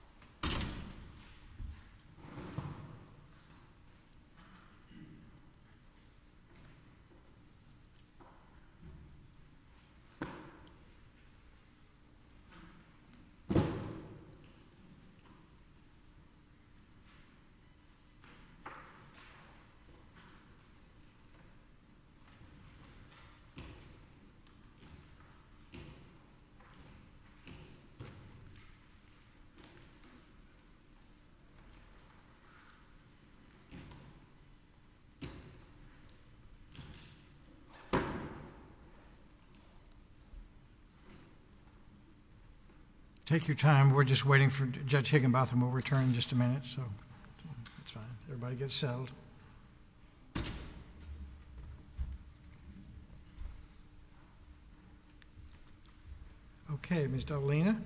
New Orleans City, New Orleans, U.S.A. Take your time, we're just waiting for Judge Higginbotham, we'll return in just a minute, so it's fine, everybody get settled. Okay, Ms. Dovalina?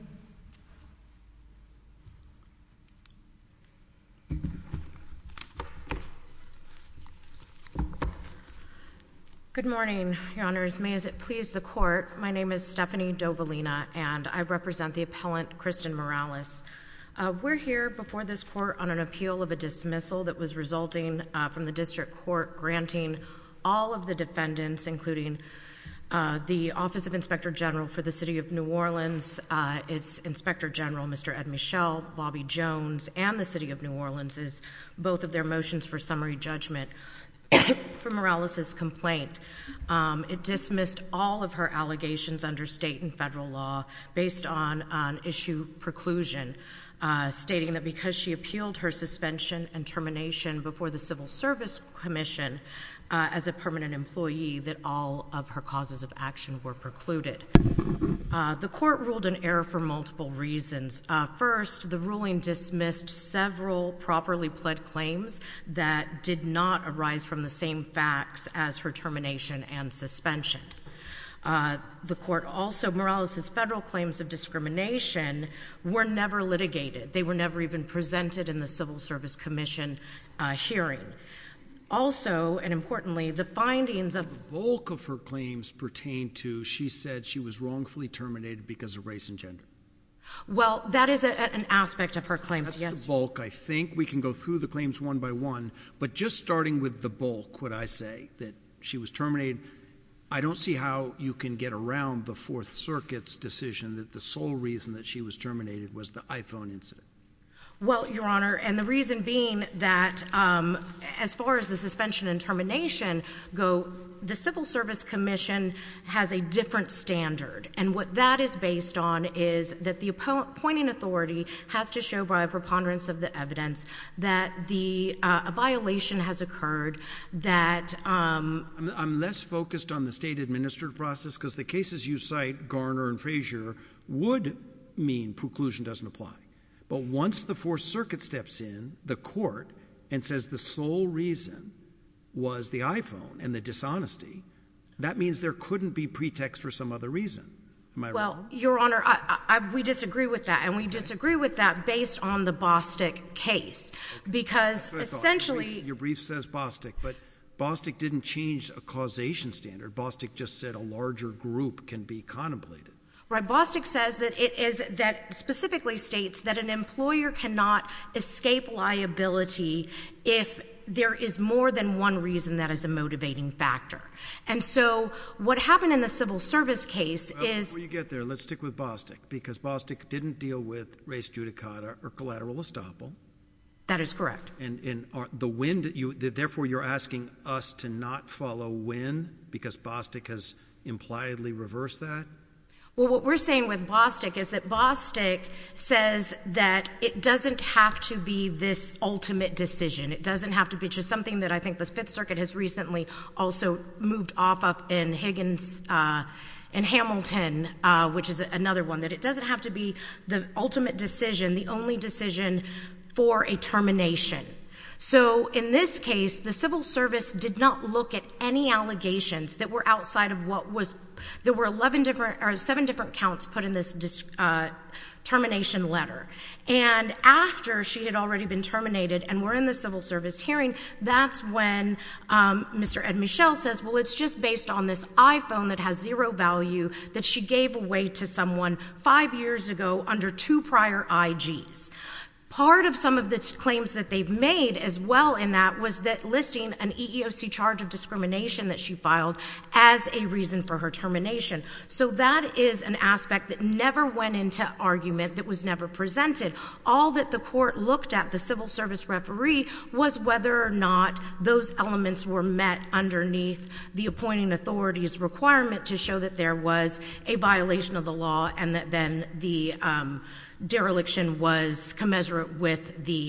Good morning, your honors, may it please the court, my name is Stephanie Dovalina, and I represent the appellant, Kristen Morales. We're here before this court on an appeal of a dismissal that was resulting from the district court granting all of the defendants, including the Office of Inspector General for the City of New Orleans, its Inspector General, Mr. Ed Michel, Bobby Jones, and the City of New Orleans, both of their motions for summary judgment for Morales' complaint. It dismissed all of her allegations under state and federal law based on issue preclusion, stating that because she appealed her suspension and termination before the Civil Service Commission as a permanent employee, that all of her causes of action were precluded. The court ruled in error for multiple reasons. First, the ruling dismissed several properly pled claims that did not arise from the same facts as her termination and suspension. The court also, Morales' federal claims of discrimination were never litigated. They were never even presented in the Civil Service Commission hearing. Also, and importantly, the findings of— The bulk of her claims pertain to she said she was wrongfully terminated because of race and gender. Well, that is an aspect of her claims, yes. That's the bulk, I think. I think we can go through the claims one by one, but just starting with the bulk, would I say, that she was terminated, I don't see how you can get around the Fourth Circuit's decision that the sole reason that she was terminated was the iPhone incident. Well, Your Honor, and the reason being that as far as the suspension and termination go, the Civil Service Commission has a different standard. And what that is based on is that the appointing authority has to show by a preponderance of the evidence that a violation has occurred, that— I'm less focused on the state-administered process because the cases you cite, Garner and Frazier, would mean preclusion doesn't apply. But once the Fourth Circuit steps in, the court, and says the sole reason was the iPhone and the dishonesty, that means there couldn't be pretext for some other reason. Am I right? Well, Your Honor, we disagree with that. And we disagree with that based on the Bostick case. Because essentially— Your brief says Bostick, but Bostick didn't change a causation standard. Bostick just said a larger group can be contemplated. Right. Bostick says that it is, that specifically states that an employer cannot escape liability if there is more than one reason that is a motivating factor. And so what happened in the Civil Service case is— And therefore, you're asking us to not follow when? Because Bostick has impliedly reversed that? Well, what we're saying with Bostick is that Bostick says that it doesn't have to be this ultimate decision. It doesn't have to be just something that I think the Fifth Circuit has recently also moved off of in Higgins and Hamilton, which is another one, that it doesn't have to be the ultimate decision, the only decision for a termination. So in this case, the Civil Service did not look at any allegations that were outside of what was—there were seven different counts put in this termination letter. And after she had already been terminated and were in the Civil Service hearing, that's when Mr. Ed Michelle says, well, it's just based on this iPhone that has zero value that she gave away to someone five years ago under two prior IGs. Part of some of the claims that they've made as well in that was that listing an EEOC charge of discrimination that she filed as a reason for her termination. So that is an aspect that never went into argument, that was never presented. All that the court looked at, the Civil Service referee, was whether or not those elements were met underneath the appointing authority's requirement to show that there was a violation of the law and that then the dereliction was commensurate with the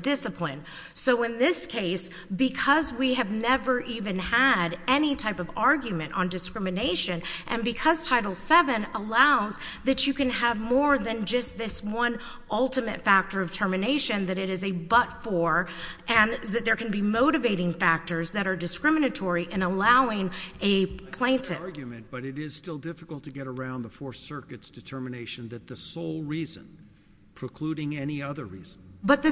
discipline. So in this case, because we have never even had any type of argument on discrimination, and because Title VII allows that you can have more than just this one ultimate factor of termination that it is a but for, and that there can be motivating factors that are discriminatory in allowing a plaintiff. But it is still difficult to get around the Fourth Circuit's determination that the sole reason, precluding any other reason. But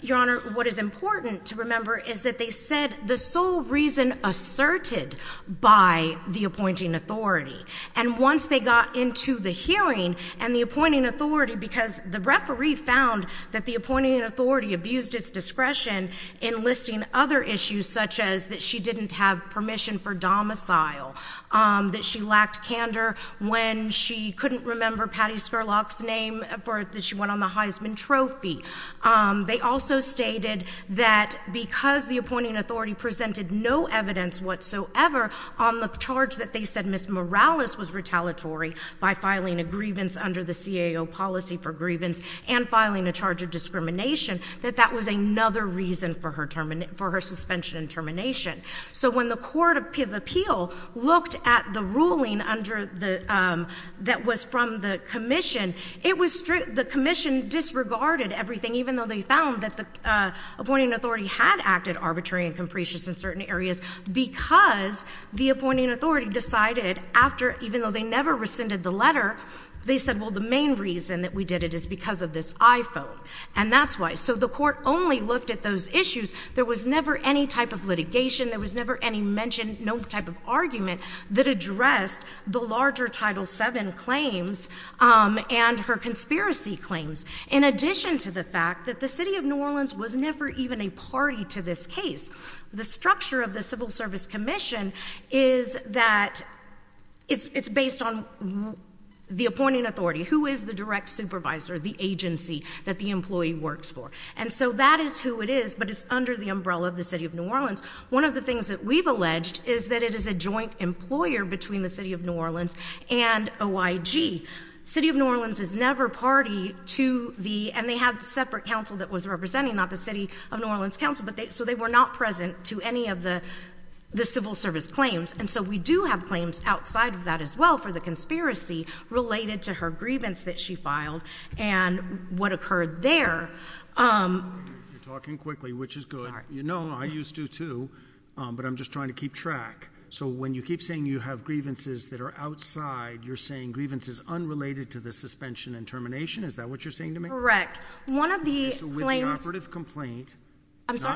Your Honor, what is important to remember is that they said the sole reason asserted by the appointing authority. And once they got into the hearing and the appointing authority, because the referee found that the appointing authority abused its discretion in listing other issues such as that she didn't have permission for domicile, that she lacked candor when she couldn't remember Patty Scurlock's name, that she went on the Heisman Trophy. They also stated that because the appointing authority presented no evidence whatsoever on the charge that they said Ms. Morales was retaliatory by filing a grievance under the CAO policy for grievance and filing a charge of discrimination, that that was another reason for her suspension and termination. So when the Court of Appeal looked at the ruling that was from the commission, the commission disregarded everything, even though they found that the appointing authority had acted arbitrary and capricious in certain areas, because the appointing authority decided after, even though they never rescinded the letter, they said, well, the main reason that we did it is because of this iPhone, and that's why. So the Court only looked at those issues. There was never any type of litigation. There was never any mentioned, no type of argument that addressed the larger Title VII claims and her conspiracy claims, in addition to the fact that the City of New Orleans was never even a party to this case. The structure of the Civil Service Commission is that it's based on the appointing authority. Who is the direct supervisor, the agency that the employee works for? And so that is who it is, but it's under the umbrella of the City of New Orleans. One of the things that we've alleged is that it is a joint employer between the City of New Orleans and OIG. City of New Orleans is never party to the, and they have separate counsel that was representing not the City of New Orleans counsel, but so they were not present to any of the Civil Service claims. And so we do have claims outside of that as well for the conspiracy related to her grievance that she filed and what occurred there. You're talking quickly, which is good. You know, I used to too, but I'm just trying to keep track. So when you keep saying you have grievances that are outside, you're saying grievances unrelated to the suspension and termination? Is that what you're saying to me? Correct. So with the operative complaint,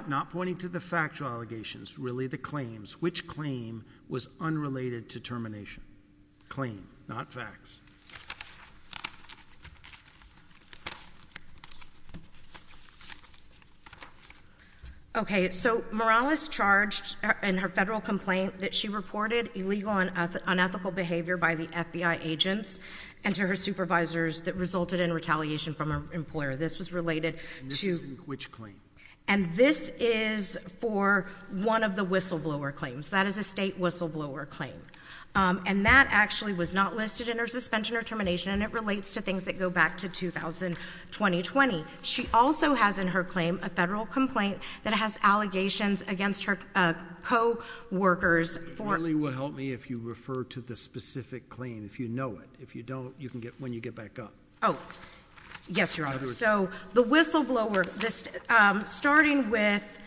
not pointing to the factual allegations, really the claims, which claim was unrelated to termination? Claim, not facts. Okay, so Morales charged in her federal complaint that she reported illegal and unethical behavior by the FBI agents and to her supervisors that resulted in retaliation from an employer. This was related to. And this is in which claim? And this is for one of the whistleblower claims. That is a state whistleblower claim. And that actually was not listed in her suspension or termination, and it relates to things that go back to 2000, 2020. She also has in her claim a federal complaint that has allegations against her coworkers for. That partly would help me if you refer to the specific claim, if you know it. If you don't, you can get when you get back up. Oh, yes, Your Honor. So the whistleblower, starting with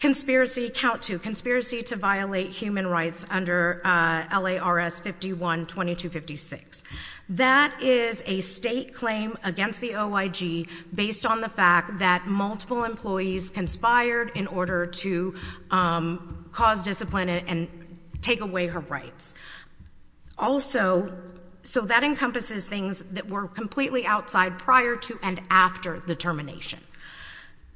conspiracy, count two, conspiracy to violate human rights under L.A.R.S. 51-2256. That is a state claim against the OIG based on the fact that multiple employees conspired in order to cause discipline and take away her rights. Also, so that encompasses things that were completely outside prior to and after the termination.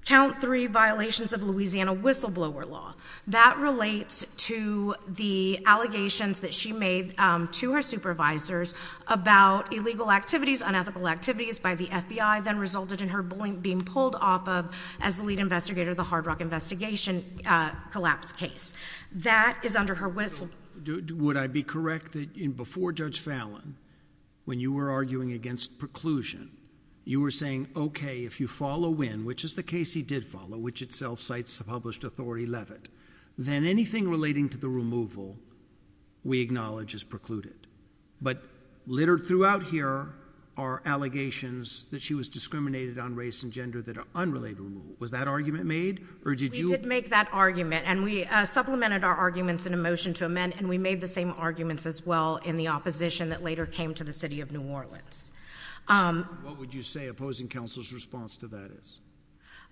Count three, violations of Louisiana whistleblower law. That relates to the allegations that she made to her supervisors about illegal activities, unethical activities by the FBI that resulted in her being pulled off of as the lead investigator of the Hard Rock investigation collapse case. That is under her whistle. Would I be correct that before Judge Fallon, when you were arguing against preclusion, you were saying, okay, if you follow in, which is the case he did follow, which itself cites the published authority, Levitt, then anything relating to the removal we acknowledge as precluded. But littered throughout here are allegations that she was discriminated on race and gender that are unrelated. Was that argument made? Or did you? We did make that argument. And we supplemented our arguments in a motion to amend. And we made the same arguments as well in the opposition that later came to the city of New Orleans. What would you say opposing counsel's response to that is?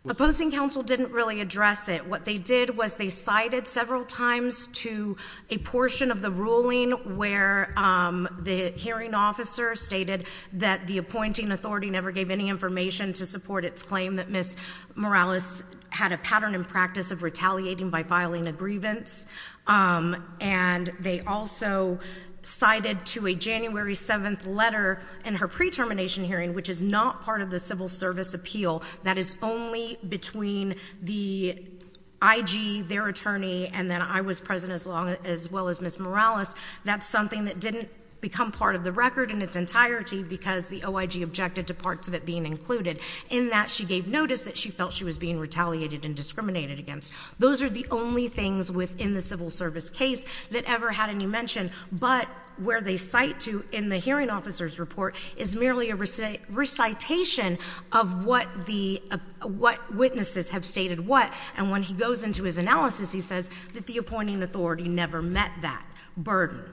Opposing counsel didn't really address it. What they did was they cited several times to a portion of the ruling where the hearing officer stated that the appointing authority never gave any information to support its claim. Morales had a pattern and practice of retaliating by filing a grievance. And they also cited to a January 7th letter in her pre-termination hearing, which is not part of the civil service appeal. That is only between the IG, their attorney, and then I was present as well as Ms. Morales. That's something that didn't become part of the record in its entirety because the OIG objected to parts of it being included. In that, she gave notice that she felt she was being retaliated and discriminated against. Those are the only things within the civil service case that ever had any mention. But where they cite to in the hearing officer's report is merely a recitation of what witnesses have stated what. And when he goes into his analysis, he says that the appointing authority never met that burden.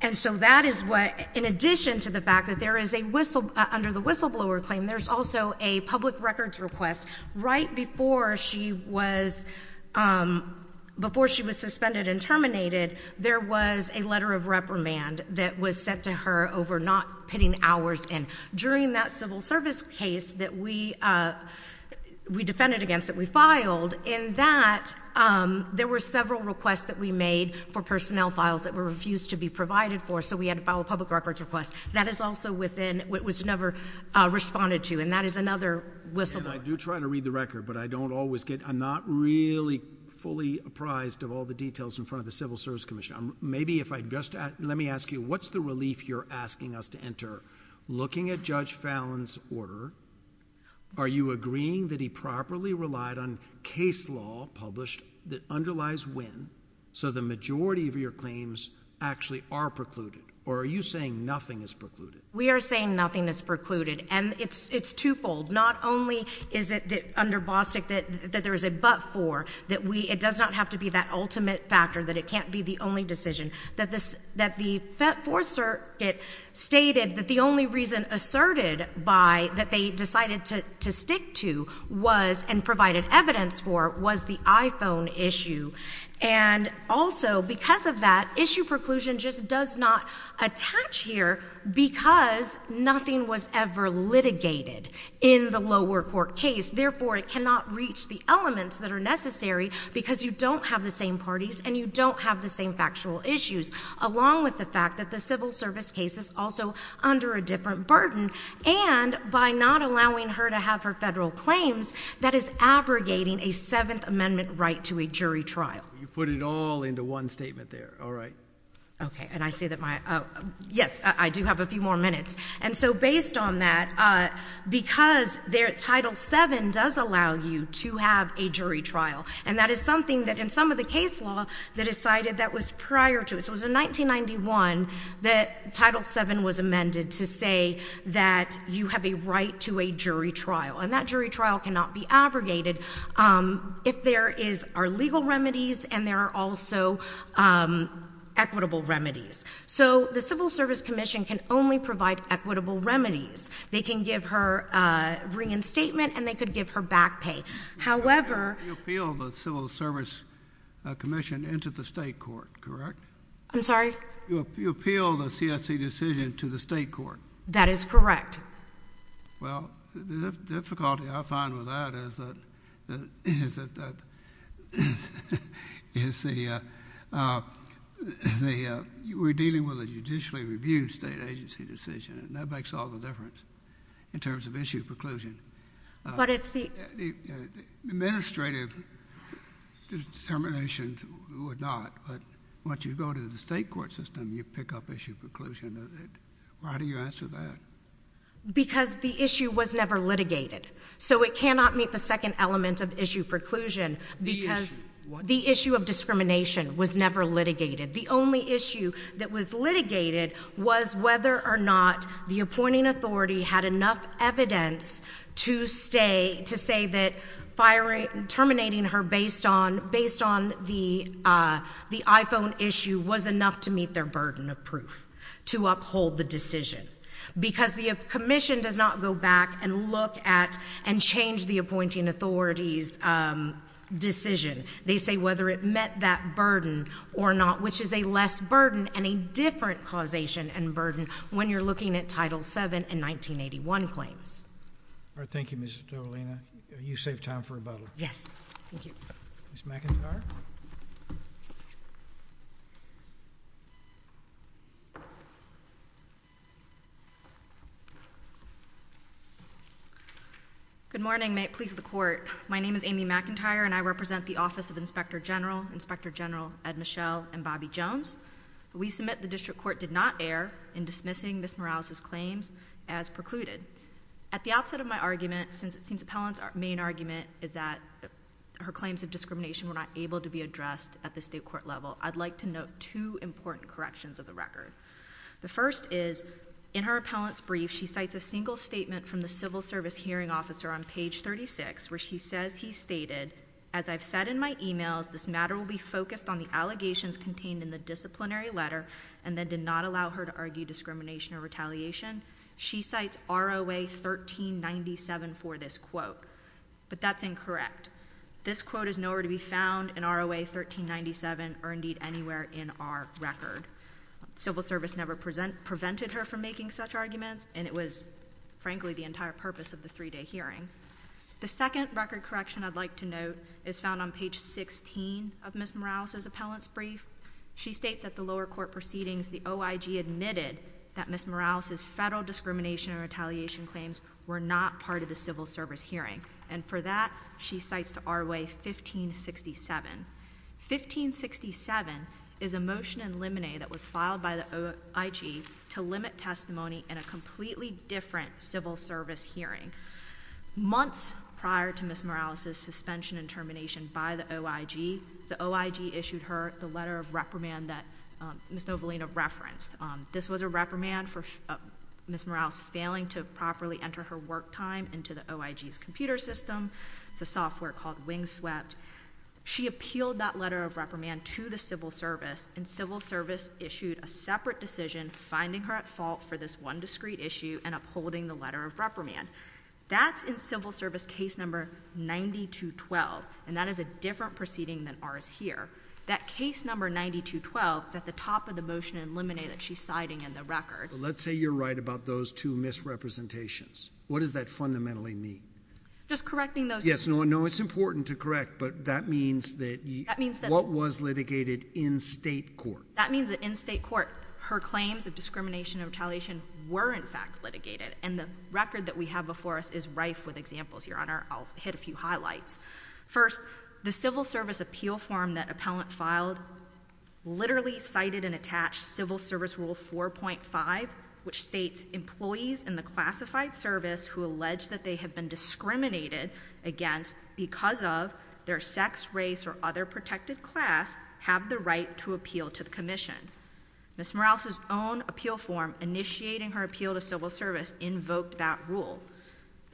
And so that is what, in addition to the fact that there is a whistle, under the whistleblower claim, there's also a public records request. Right before she was, before she was suspended and terminated, there was a letter of reprimand that was sent to her over not putting hours in. During that civil service case that we defended against, that we filed, in that, there were several requests that we made for personnel files that were refused to be provided for. So we had to file a public records request. That is also within, was never responded to. And that is another whistleblower. And I do try to read the record, but I don't always get, I'm not really fully apprised of all the details in front of the Civil Service Commission. Maybe if I just, let me ask you, what's the relief you're asking us to enter? Looking at Judge Fallon's order, are you agreeing that he properly relied on case law published that underlies when, so the majority of your claims actually are precluded, or are you saying nothing is precluded? We are saying nothing is precluded. And it's, it's twofold. Not only is it that, under Bostick, that, that there is a but for, that we, it does not have to be that ultimate factor, that it can't be the only decision, that this, that the Fourth Circuit stated that the only reason asserted by, that they decided to, to stick to was, and provided evidence for, was the iPhone issue. And also, because of that, issue preclusion just does not attach here, because nothing was ever litigated in the lower court case. Therefore, it cannot reach the elements that are necessary, because you don't have the same parties, and you don't have the same factual issues, along with the fact that the have her federal claims, that is abrogating a Seventh Amendment right to a jury trial. You put it all into one statement there, all right. Okay. And I see that my, yes, I do have a few more minutes. And so, based on that, because their Title VII does allow you to have a jury trial, and that is something that in some of the case law, they decided that was prior to it. So it was in 1991, that Title VII was amended to say that you have a right to a jury trial. And that jury trial cannot be abrogated, if there is, are legal remedies, and there are also equitable remedies. So the Civil Service Commission can only provide equitable remedies. They can give her reinstatement, and they could give her back pay. However— You appealed the Civil Service Commission into the state court, correct? I'm sorry? You appealed a CSE decision to the state court. That is correct. Well, the difficulty I find with that is that, is that, is the, we're dealing with a judicially reviewed state agency decision, and that makes all the difference, in terms of issue preclusion. But if the— Administrative determinations would not, but once you go to the state court system, you pick up issue preclusion. Why do you answer that? Because the issue was never litigated. So it cannot meet the second element of issue preclusion, because the issue of discrimination was never litigated. The only issue that was litigated was whether or not the appointing authority had enough evidence to say that terminating her based on the iPhone issue was enough to meet their burden of proof, to uphold the decision. Because the commission does not go back and look at and change the appointing authority's decision. They say whether it met that burden or not, which is a less burden and a different causation and burden when you're looking at Title VII and 1981 claims. All right. Thank you, Ms. Dovalina. You saved time for rebuttal. Yes. Thank you. Ms. McIntyre? Good morning. May it please the Court. My name is Amy McIntyre, and I represent the Office of Inspector General, Inspector General Ed Michelle and Bobby Jones. We submit the district court did not err in dismissing Ms. Morales' claims as precluded. At the outset of my argument, since it seems appellant's main argument is that her claims of discrimination were not able to be addressed at the state court level, I'd like to note two important corrections of the record. The first is, in her appellant's brief, she cites a single statement from the civil service hearing officer on page 36, where she says he stated, as I've said in my emails, this letter and then did not allow her to argue discrimination or retaliation. She cites ROA 1397 for this quote, but that's incorrect. This quote is nowhere to be found in ROA 1397 or, indeed, anywhere in our record. Civil service never prevented her from making such arguments, and it was, frankly, the entire purpose of the three-day hearing. The second record correction I'd like to note is found on page 16 of Ms. Morales' appellant's brief. She states at the lower court proceedings the OIG admitted that Ms. Morales' federal discrimination or retaliation claims were not part of the civil service hearing, and for that, she cites to ROA 1567. 1567 is a motion in limine that was filed by the OIG to limit testimony in a completely different civil service hearing. Months prior to Ms. Morales' suspension and termination by the OIG, the OIG issued her with a letter of reprimand that Ms. Novelino referenced. This was a reprimand for Ms. Morales failing to properly enter her work time into the OIG's computer system. It's a software called Wingswept. She appealed that letter of reprimand to the civil service, and civil service issued a separate decision finding her at fault for this one discrete issue and upholding the letter of reprimand. That's in civil service case number 9212, and that is a different proceeding than ours here. That case number 9212 is at the top of the motion in limine that she's citing in the record. But let's say you're right about those two misrepresentations. What does that fundamentally mean? Just correcting those two. Yes. No, it's important to correct, but that means that what was litigated in state court? That means that in state court, her claims of discrimination or retaliation were in fact litigated, and the record that we have before us is rife with examples, Your Honor. I'll hit a few highlights. First, the civil service appeal form that appellant filed literally cited and attached civil service rule 4.5, which states employees in the classified service who allege that they have been discriminated against because of their sex, race, or other protected class have the right to appeal to the commission. Ms. Morales' own appeal form initiating her appeal to civil service invoked that rule.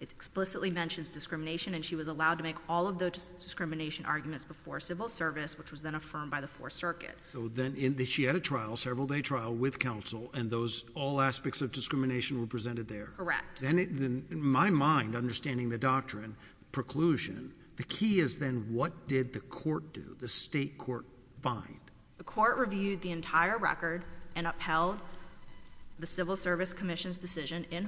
It explicitly mentions discrimination, and she was allowed to make all of those discrimination arguments before civil service, which was then affirmed by the Fourth Circuit. So then she had a trial, several day trial, with counsel, and all aspects of discrimination were presented there? Correct. Then in my mind, understanding the doctrine, preclusion, the key is then what did the court do? The state court find? The court reviewed the entire record and upheld the civil service commission's decision in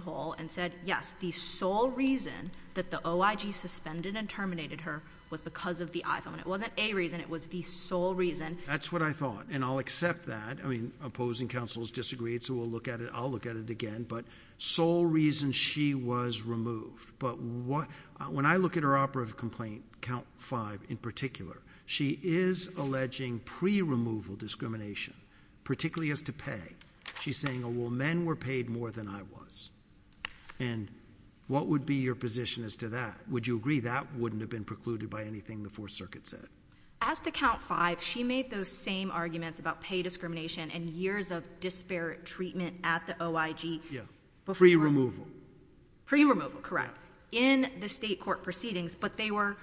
that the sole reason that the OIG suspended and terminated her was because of the iPhone. It wasn't a reason, it was the sole reason. That's what I thought, and I'll accept that. I mean, opposing counsels disagreed, so we'll look at it, I'll look at it again. But sole reason she was removed. But when I look at her operative complaint, count five in particular, she is alleging pre-removal discrimination, particularly as to pay. She's saying, well, men were paid more than I was. And what would be your position as to that? Would you agree that wouldn't have been precluded by anything the Fourth Circuit said? As to count five, she made those same arguments about pay discrimination and years of disparate treatment at the OIG before. Yeah. Pre-removal. Pre-removal, correct, in the state court proceedings, but they were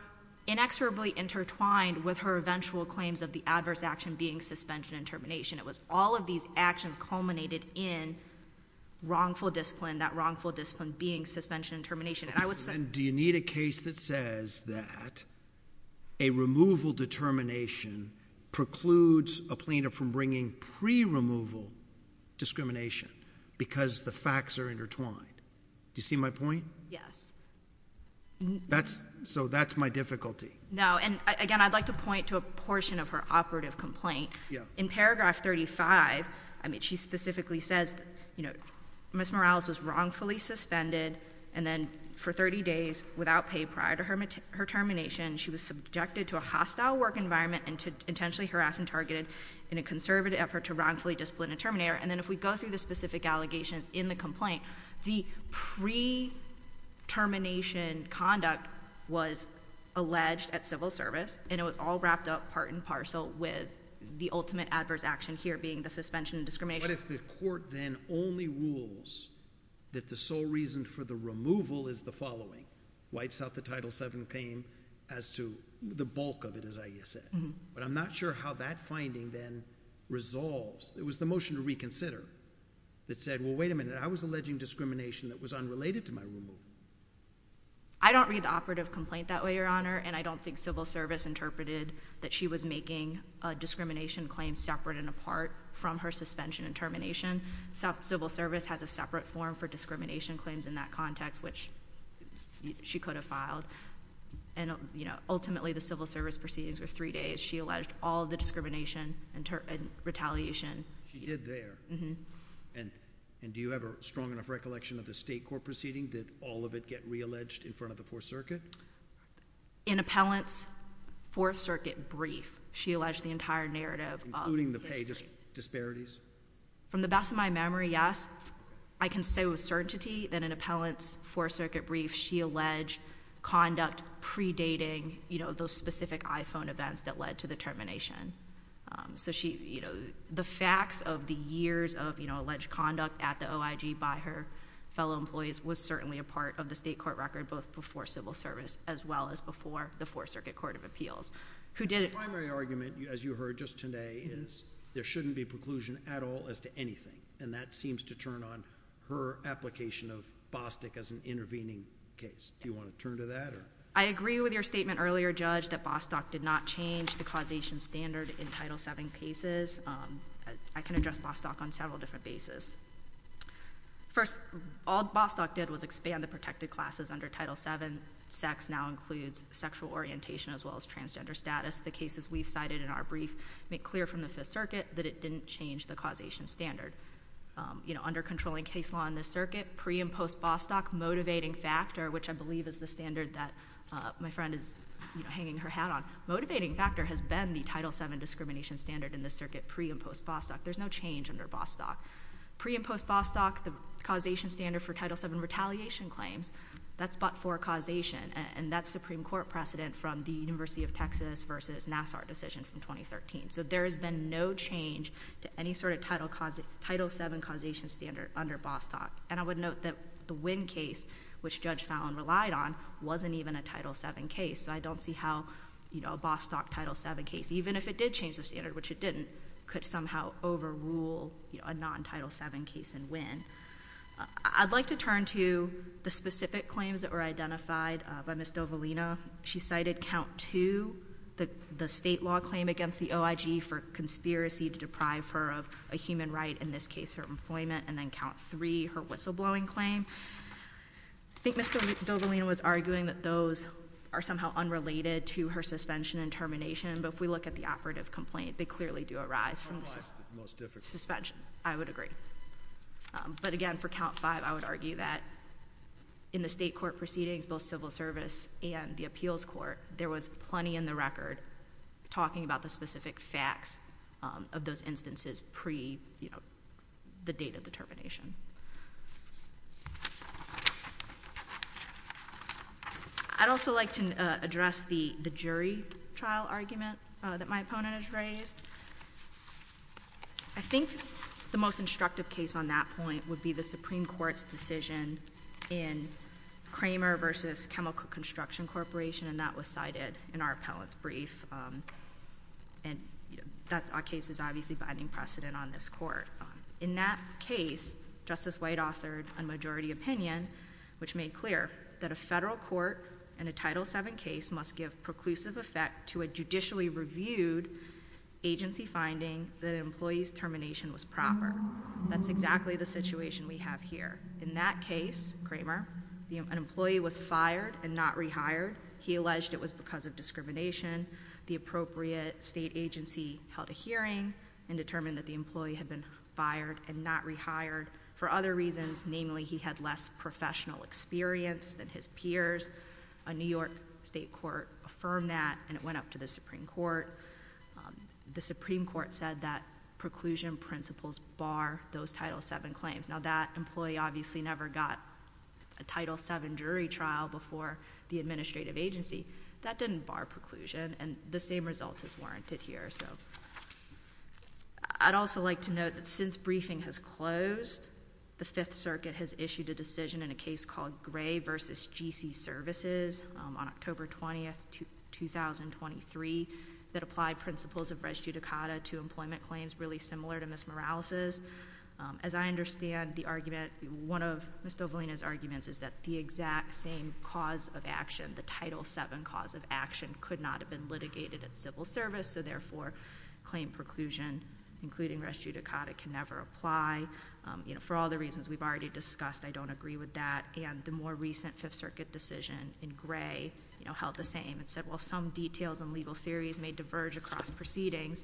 inexorably intertwined with her eventual claims of the adverse action being suspension and termination. It was all of these actions culminated in wrongful discipline, that wrongful discipline being suspension and termination. And I would say— And do you need a case that says that a removal determination precludes a plaintiff from bringing pre-removal discrimination because the facts are intertwined? Do you see my point? Yes. That's—so that's my difficulty. No, and again, I'd like to point to a portion of her operative complaint. Yeah. In paragraph 35, I mean, she specifically says, you know, Ms. Morales was wrongfully suspended and then for 30 days without pay prior to her termination, she was subjected to a hostile work environment and to—intentionally harassed and targeted in a conservative effort to wrongfully discipline a terminator. And then if we go through the specific allegations in the complaint, the pre-termination conduct was alleged at civil service, and it was all wrapped up part and parcel with the ultimate adverse action here being the suspension and discrimination. What if the court then only rules that the sole reason for the removal is the following, wipes out the Title VII claim as to the bulk of it, as Aya said, but I'm not sure how that finding then resolves. It was the motion to reconsider that said, well, wait a minute, I was alleging discrimination that was unrelated to my removal. I don't read the operative complaint that way, Your Honor, and I don't think civil service interpreted that she was making a discrimination claim separate and apart from her suspension and termination. Civil service has a separate form for discrimination claims in that context, which she could have filed. And, you know, ultimately the civil service proceedings were three days. She alleged all the discrimination and retaliation. She did there. Mm-hmm. And do you have a strong enough recollection of the State Court proceeding? Did all of it get realleged in front of the Fourth Circuit? In Appellant's Fourth Circuit brief, she alleged the entire narrative of history. Including the pay disparities? From the best of my memory, yes. I can say with certainty that in Appellant's Fourth Circuit brief, she alleged conduct predating, you know, those specific iPhone events that led to the termination. So she, you know, the facts of the years of, you know, alleged conduct at the OIG by her fellow employees was certainly a part of the State Court record, both before civil service as well as before the Fourth Circuit Court of Appeals. Who did it... The primary argument, as you heard just today, is there shouldn't be preclusion at all as to anything. And that seems to turn on her application of Bostock as an intervening case. Do you want to turn to that or... I agree with your statement earlier, Judge, that Bostock did not change the causation standard in Title VII cases. I can address Bostock on several different bases. First, all Bostock did was expand the protected classes under Title VII. Sex now includes sexual orientation as well as transgender status. The cases we've cited in our brief make clear from the Fifth Circuit that it didn't change the causation standard. You know, under controlling case law in this circuit, pre and post-Bostock, motivating factor, which I believe is the standard that my friend is, you know, hanging her hat on. Motivating factor has been the Title VII discrimination standard in this circuit, pre and post-Bostock. There's no change under Bostock. Pre- and post-Bostock, the causation standard for Title VII retaliation claims, that's but for causation. And that's Supreme Court precedent from the University of Texas versus Nassar decision from 2013. So there has been no change to any sort of Title VII causation standard under Bostock. And I would note that the Wynn case, which Judge Fallon relied on, wasn't even a Title VII case. So I don't see how, you know, a Bostock Title VII case, even if it did change the standard, which it didn't, could somehow overrule, you know, a non-Title VII case in Wynn. I'd like to turn to the specific claims that were identified by Ms. Dovalina. She cited count two, the state law claim against the OIG for conspiracy to deprive her of a whistleblowing claim. I think Ms. Dovalina was arguing that those are somehow unrelated to her suspension and termination. But if we look at the operative complaint, they clearly do arise from the suspension. I would agree. But again, for count five, I would argue that in the state court proceedings, both civil service and the appeals court, there was plenty in the record talking about the specific facts of those instances pre, you know, the date of the termination. I'd also like to address the jury trial argument that my opponent has raised. I think the most instructive case on that point would be the Supreme Court's decision in Kramer v. Chemical Construction Corporation, and that was cited in our appellant's brief. And, you know, that case is obviously binding precedent on this court. In that case, Justice White authored a majority opinion which made clear that a federal court and a Title VII case must give preclusive effect to a judicially reviewed agency finding that an employee's termination was proper. That's exactly the situation we have here. In that case, Kramer, an employee was fired and not rehired. He alleged it was because of discrimination. The appropriate state agency held a hearing and determined that the employee had been fired and not rehired for other reasons, namely he had less professional experience than his peers. A New York state court affirmed that, and it went up to the Supreme Court. The Supreme Court said that preclusion principles bar those Title VII claims. Now, that employee obviously never got a Title VII jury trial before the administrative agency. That didn't bar preclusion, and the same result is warranted here, so. I'd also like to note that since briefing has closed, the Fifth Circuit has issued a decision in a case called Gray v. G.C. Services on October 20, 2023, that applied principles of res judicata to employment claims really similar to Ms. Morales's. As I understand the argument, one of Ms. Dovalina's arguments is that the exact same cause of action, the Title VII cause of action, could not have been litigated at civil service, so therefore claim preclusion, including res judicata, can never apply. For all the reasons we've already discussed, I don't agree with that, and the more recent Fifth Circuit decision in Gray held the same and said, while some details and legal theories may diverge across proceedings,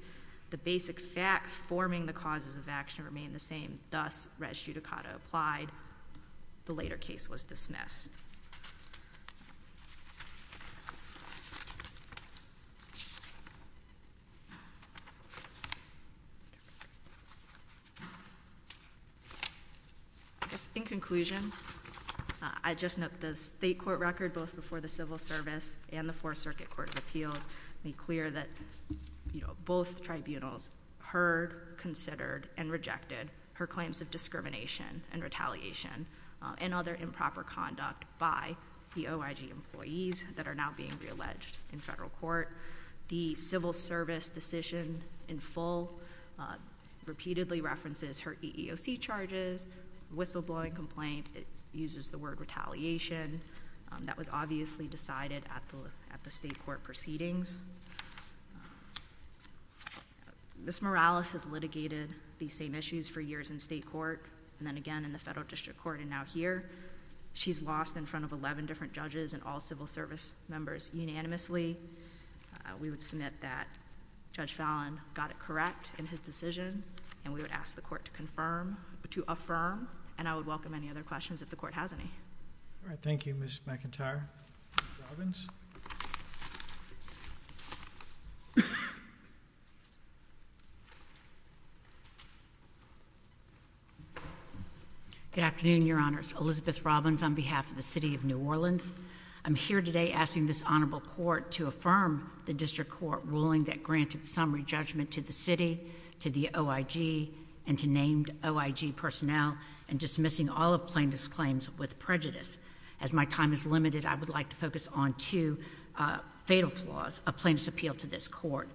the basic facts forming the causes of action remain the same. Thus, res judicata applied. The later case was dismissed. In conclusion, I'd just note the state court record, both before the civil service and the Fourth Circuit Court of Appeals, made clear that both tribunals heard, considered, and rejected her claims of discrimination and retaliation and other improper conduct by the OIG employees that are now being realleged in federal court. The civil service decision in full repeatedly references her EEOC charges, whistleblowing complaints. It uses the word retaliation. That was obviously decided at the state court proceedings. Ms. Morales has litigated these same issues for years in state court, and then again in the federal district court, and now here. She's lost in front of 11 different judges and all civil service members unanimously. We would submit that Judge Fallon got it correct in his decision, and we would ask the court to confirm, to affirm, and I would welcome any other questions if the court has any. All right. Thank you, Ms. McIntyre. Ms. Robbins? Good afternoon, Your Honors. Elizabeth Robbins on behalf of the City of New Orleans. I'm here today asking this honorable court to affirm the district court ruling that granted summary judgment to the city, to the OIG, and to named OIG personnel, and dismissing all of plaintiff's claims with prejudice. As my time is limited, I would like to focus on two fatal flaws of plaintiff's appeal to this court,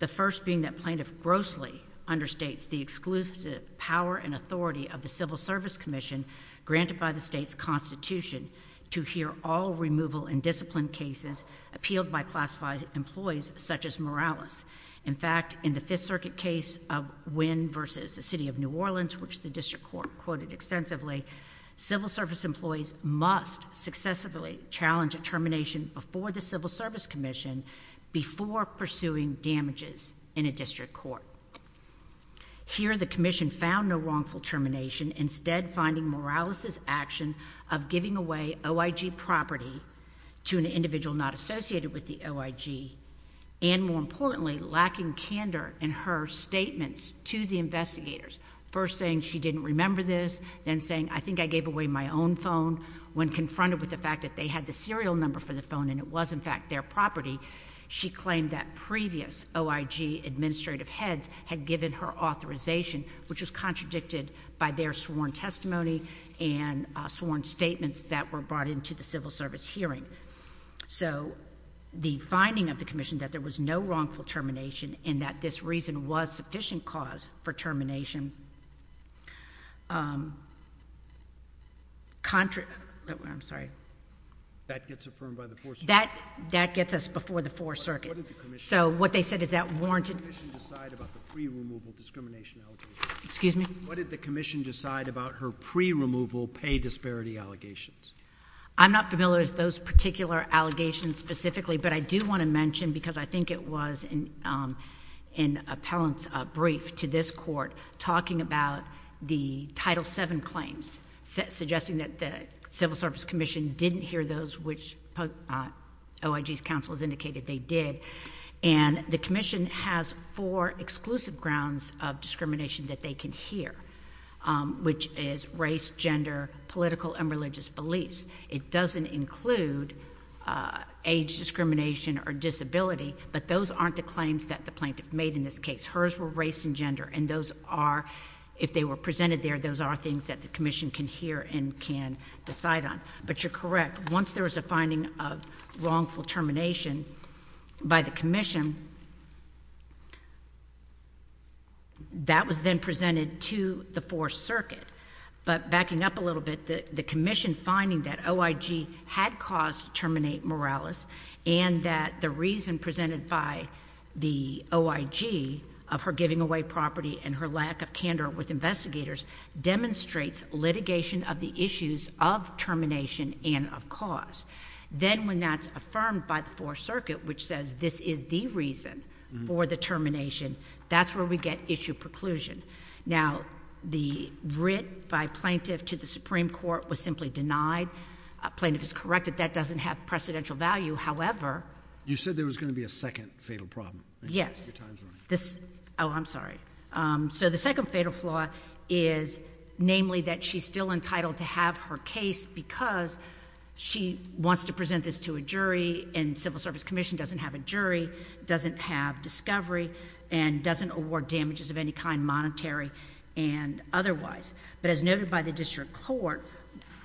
the first being that plaintiff grossly understates the exclusive power and authority of the Civil Service Commission granted by the state's Constitution to hear all removal and discipline cases appealed by classified employees such as Morales. In fact, in the Fifth Circuit case of Wynn versus the City of New Orleans, which the district court quoted extensively, civil service employees must successively challenge a termination before the Civil Service Commission before pursuing damages in a district court. Here the commission found no wrongful termination, instead finding Morales' action of giving away OIG property to an individual not associated with the OIG, and more importantly, lacking candor in her statements to the investigators. First saying she didn't remember this, then saying, I think I gave away my own phone, when confronted with the fact that they had the serial number for the phone and it was, in fact, their property, she claimed that previous OIG administrative heads had given her authorization, which was contradicted by their sworn testimony and sworn statements that were brought into the Civil Service hearing. So the finding of the commission that there was no wrongful termination and that this reason was sufficient cause for termination, um, contra—oh, I'm sorry. That gets affirmed by the Fourth Circuit. That gets us before the Fourth Circuit. So what they said is that warranted— What did the commission decide about the pre-removal discrimination allegation? Excuse me? What did the commission decide about her pre-removal pay disparity allegations? I'm not familiar with those particular allegations specifically, but I do want to mention, because I think it was in, um, in an appellant's brief to this Court, talking about the Title VII claims, suggesting that the Civil Service Commission didn't hear those which OIG's counsel has indicated they did, and the commission has four exclusive grounds of discrimination that they can hear, um, which is race, gender, political, and religious beliefs. It doesn't include, uh, age discrimination or disability, but those aren't the claims that the plaintiff made in this case. Hers were race and gender, and those are, if they were presented there, those are things that the commission can hear and can decide on. But you're correct. Once there was a finding of wrongful termination by the commission, that was then presented to the Fourth Circuit, but backing up a little bit, the commission finding that OIG had caused terminate Morales and that the reason presented by the OIG of her giving away property and her lack of candor with investigators demonstrates litigation of the issues of termination and, of course. Then, when that's affirmed by the Fourth Circuit, which says this is the reason for the termination, that's where we get issue preclusion. Now, the writ by plaintiff to the Supreme Court was simply denied. A plaintiff is corrected. That doesn't have precedential value. However— You said there was going to be a second fatal problem. Yes. Oh, I'm sorry. So, the second fatal flaw is, namely, that she's still entitled to have her case because she wants to present this to a jury, and Civil Service Commission doesn't have a jury, doesn't have discovery, and doesn't award damages of any kind, monetary and otherwise. But as noted by the district court,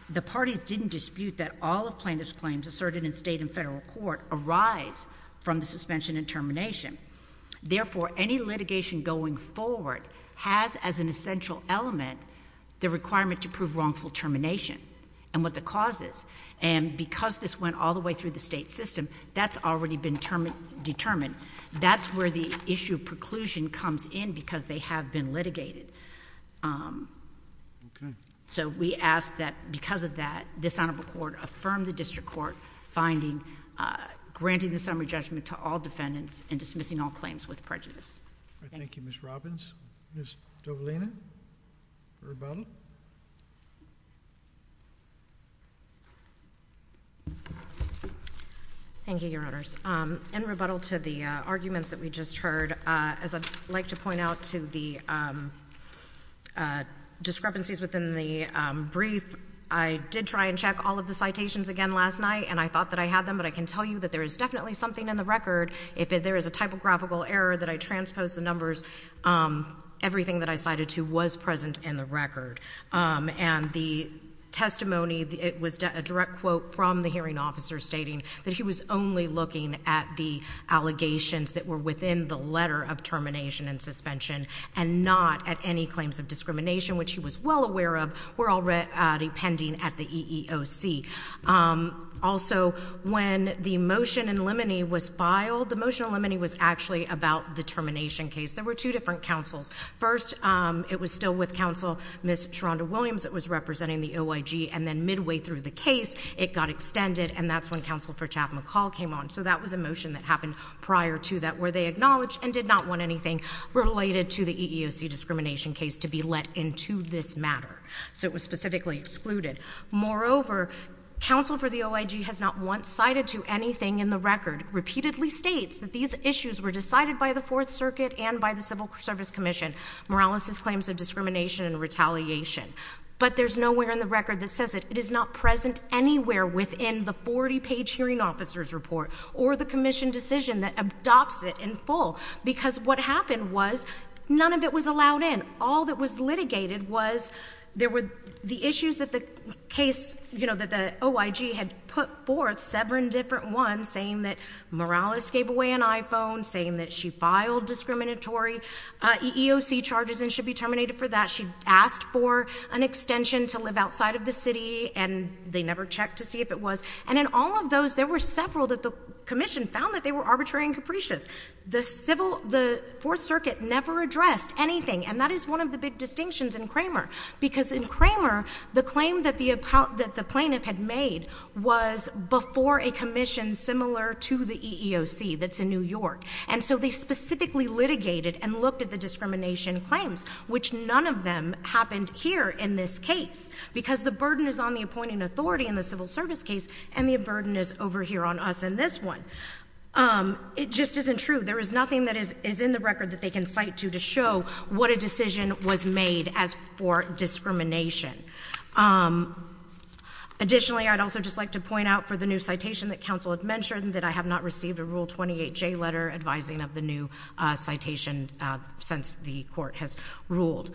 the parties didn't dispute that all of plaintiff's claims asserted in state and federal court arise from the suspension and termination. Therefore, any litigation going forward has as an essential element the requirement to prove wrongful termination and what the cause is. And because this went all the way through the state system, that's already been determined. That's where the issue of preclusion comes in because they have been litigated. Okay. So, we ask that because of that, this honorable court affirm the district court finding—granting the summary judgment to all defendants and dismissing all claims with prejudice. Thank you. All right. Thank you, Ms. Robbins. Ms. Dovalina, rebuttal. Thank you, Your Honors. In rebuttal to the arguments that we just heard, as I'd like to point out to the discrepancies within the brief, I did try and check all of the citations again last night, and I thought that I had them, but I can tell you that there is definitely something in the record. If there is a typographical error that I transposed the numbers, everything that I cited to was present in the record. And the testimony, it was a direct quote from the hearing officer stating that he was only looking at the allegations that were within the letter of termination and suspension and not at any claims of discrimination, which he was well aware of, were all pending at the EEOC. Also, when the motion in limine was filed, the motion in limine was actually about the termination case. There were two different counsels. First, it was still with Counsel Ms. Sharonda Williams that was representing the OIG, and then midway through the case, it got extended, and that's when Counsel for Chap McCall came on. So that was a motion that happened prior to that where they acknowledged and did not want anything related to the EEOC discrimination case to be let into this matter. So it was specifically excluded. Moreover, Counsel for the OIG has not once cited to anything in the record, repeatedly states that these issues were decided by the Fourth Circuit and by the Civil Service Commission, moralesis claims of discrimination and retaliation. But there's nowhere in the record that says it is not present anywhere within the 40-page hearing officer's report or the commission decision that adopts it in full, because what happened was none of it was allowed in. All that was litigated was there were the issues that the case, you know, that the OIG had put forth, seven different ones, saying that Morales gave away an iPhone, saying that she filed discriminatory EEOC charges and should be terminated for that. She asked for an extension to live outside of the city, and they never checked to see if it was. And in all of those, there were several that the commission found that they were arbitrary and capricious. The Civil—the Fourth Circuit never addressed anything, and that is one of the big distinctions in Cramer, because in Cramer, the claim that the plaintiff had made was before a commission similar to the EEOC that's in New York. And so they specifically litigated and looked at the discrimination claims, which none of them happened here in this case, because the burden is on the appointing authority in the Civil Service case, and the burden is over here on us in this one. It just isn't true. There is nothing that is in the record that they can cite to to show what a decision was made as for discrimination. Additionally, I'd also just like to point out for the new citation that counsel had mentioned that I have not received a Rule 28J letter advising of the new citation since the court has ruled.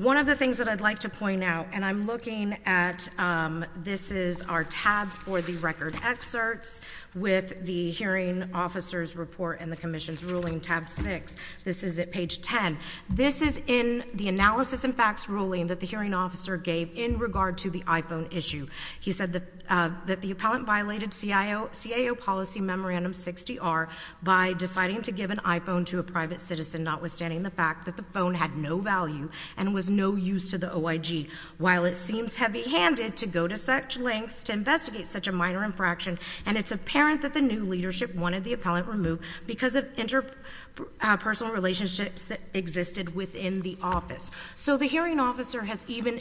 One of the things that I'd like to point out, and I'm looking at—this is our tab for the record excerpts with the hearing officer's report and the commission's ruling, tab 6. This is at page 10. This is in the analysis and facts ruling that the hearing officer gave in regard to the iPhone issue. He said that the—that the appellant violated CIO—CIO policy memorandum 60R by deciding to give an iPhone to a private citizen, notwithstanding the fact that the phone had no value and was no use to the OIG. While it seems heavy-handed to go to such lengths to investigate such a minor infraction, and it's apparent that the new leadership wanted the appellant removed because of interpersonal relationships that existed within the office. So the hearing officer has even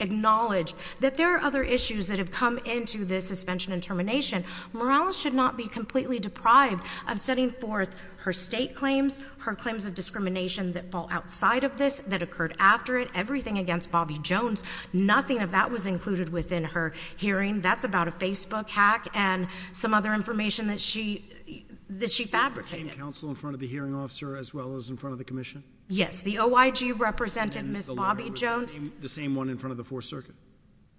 acknowledged that there are other issues that have come into this suspension and termination. Morales should not be completely deprived of setting forth her state claims, her claims of discrimination that fall outside of this, that occurred after it, everything against Bobbie Jones. Nothing of that was included within her hearing. That's about a Facebook hack and some other information that she—that she fabricated. She became counsel in front of the hearing officer as well as in front of the commission? Yes. The OIG represented Ms. Bobbie Jones. And the lawyer was the same—the same one in front of the 4th Circuit?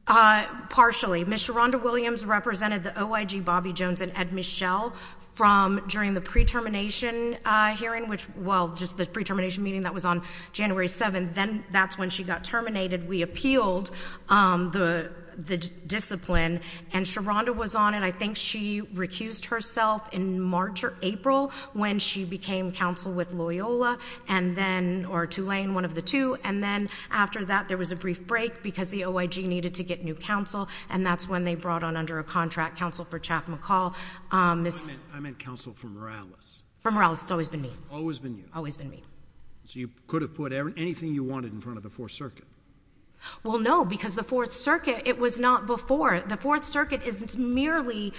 Partially. Ms. Sharonda Williams represented the OIG, Bobbie Jones, and Ed Michelle from—during the pre-termination hearing, which—well, just the pre-termination meeting that was on January 7th, then that's when she got terminated. We appealed the—the discipline, and Sharonda was on, and I think she recused herself in March or April when she became counsel with Loyola and then—or Tulane, one of the two. And then after that, there was a brief break because the OIG needed to get new counsel, and that's when they brought on under a contract counsel for Chap McCall, Ms.— I meant—I meant counsel for Morales. For Morales. It's always been me. Always been you. Always been me. So you could have put anything you wanted in front of the 4th Circuit? Well, no, because the 4th Circuit, it was not before. The 4th Circuit is merely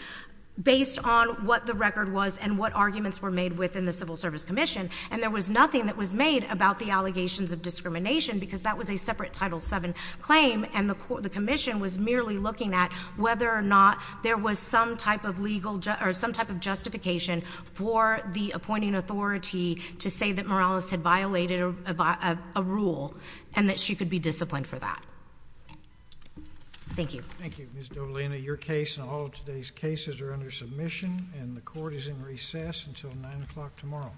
based on what the record was and what arguments were made within the Civil Service Commission, and there was nothing that was made about the allegations of discrimination because that was a separate Title VII claim, and the commission was merely looking at whether or not there was some type of legal—or some type of justification for the appointing authority to say that Morales had violated a rule and that she could be disciplined for that. Thank you. Thank you. Ms. Dolina, your case and all of today's cases are under submission, and the Court is in recess until 9 o'clock tomorrow.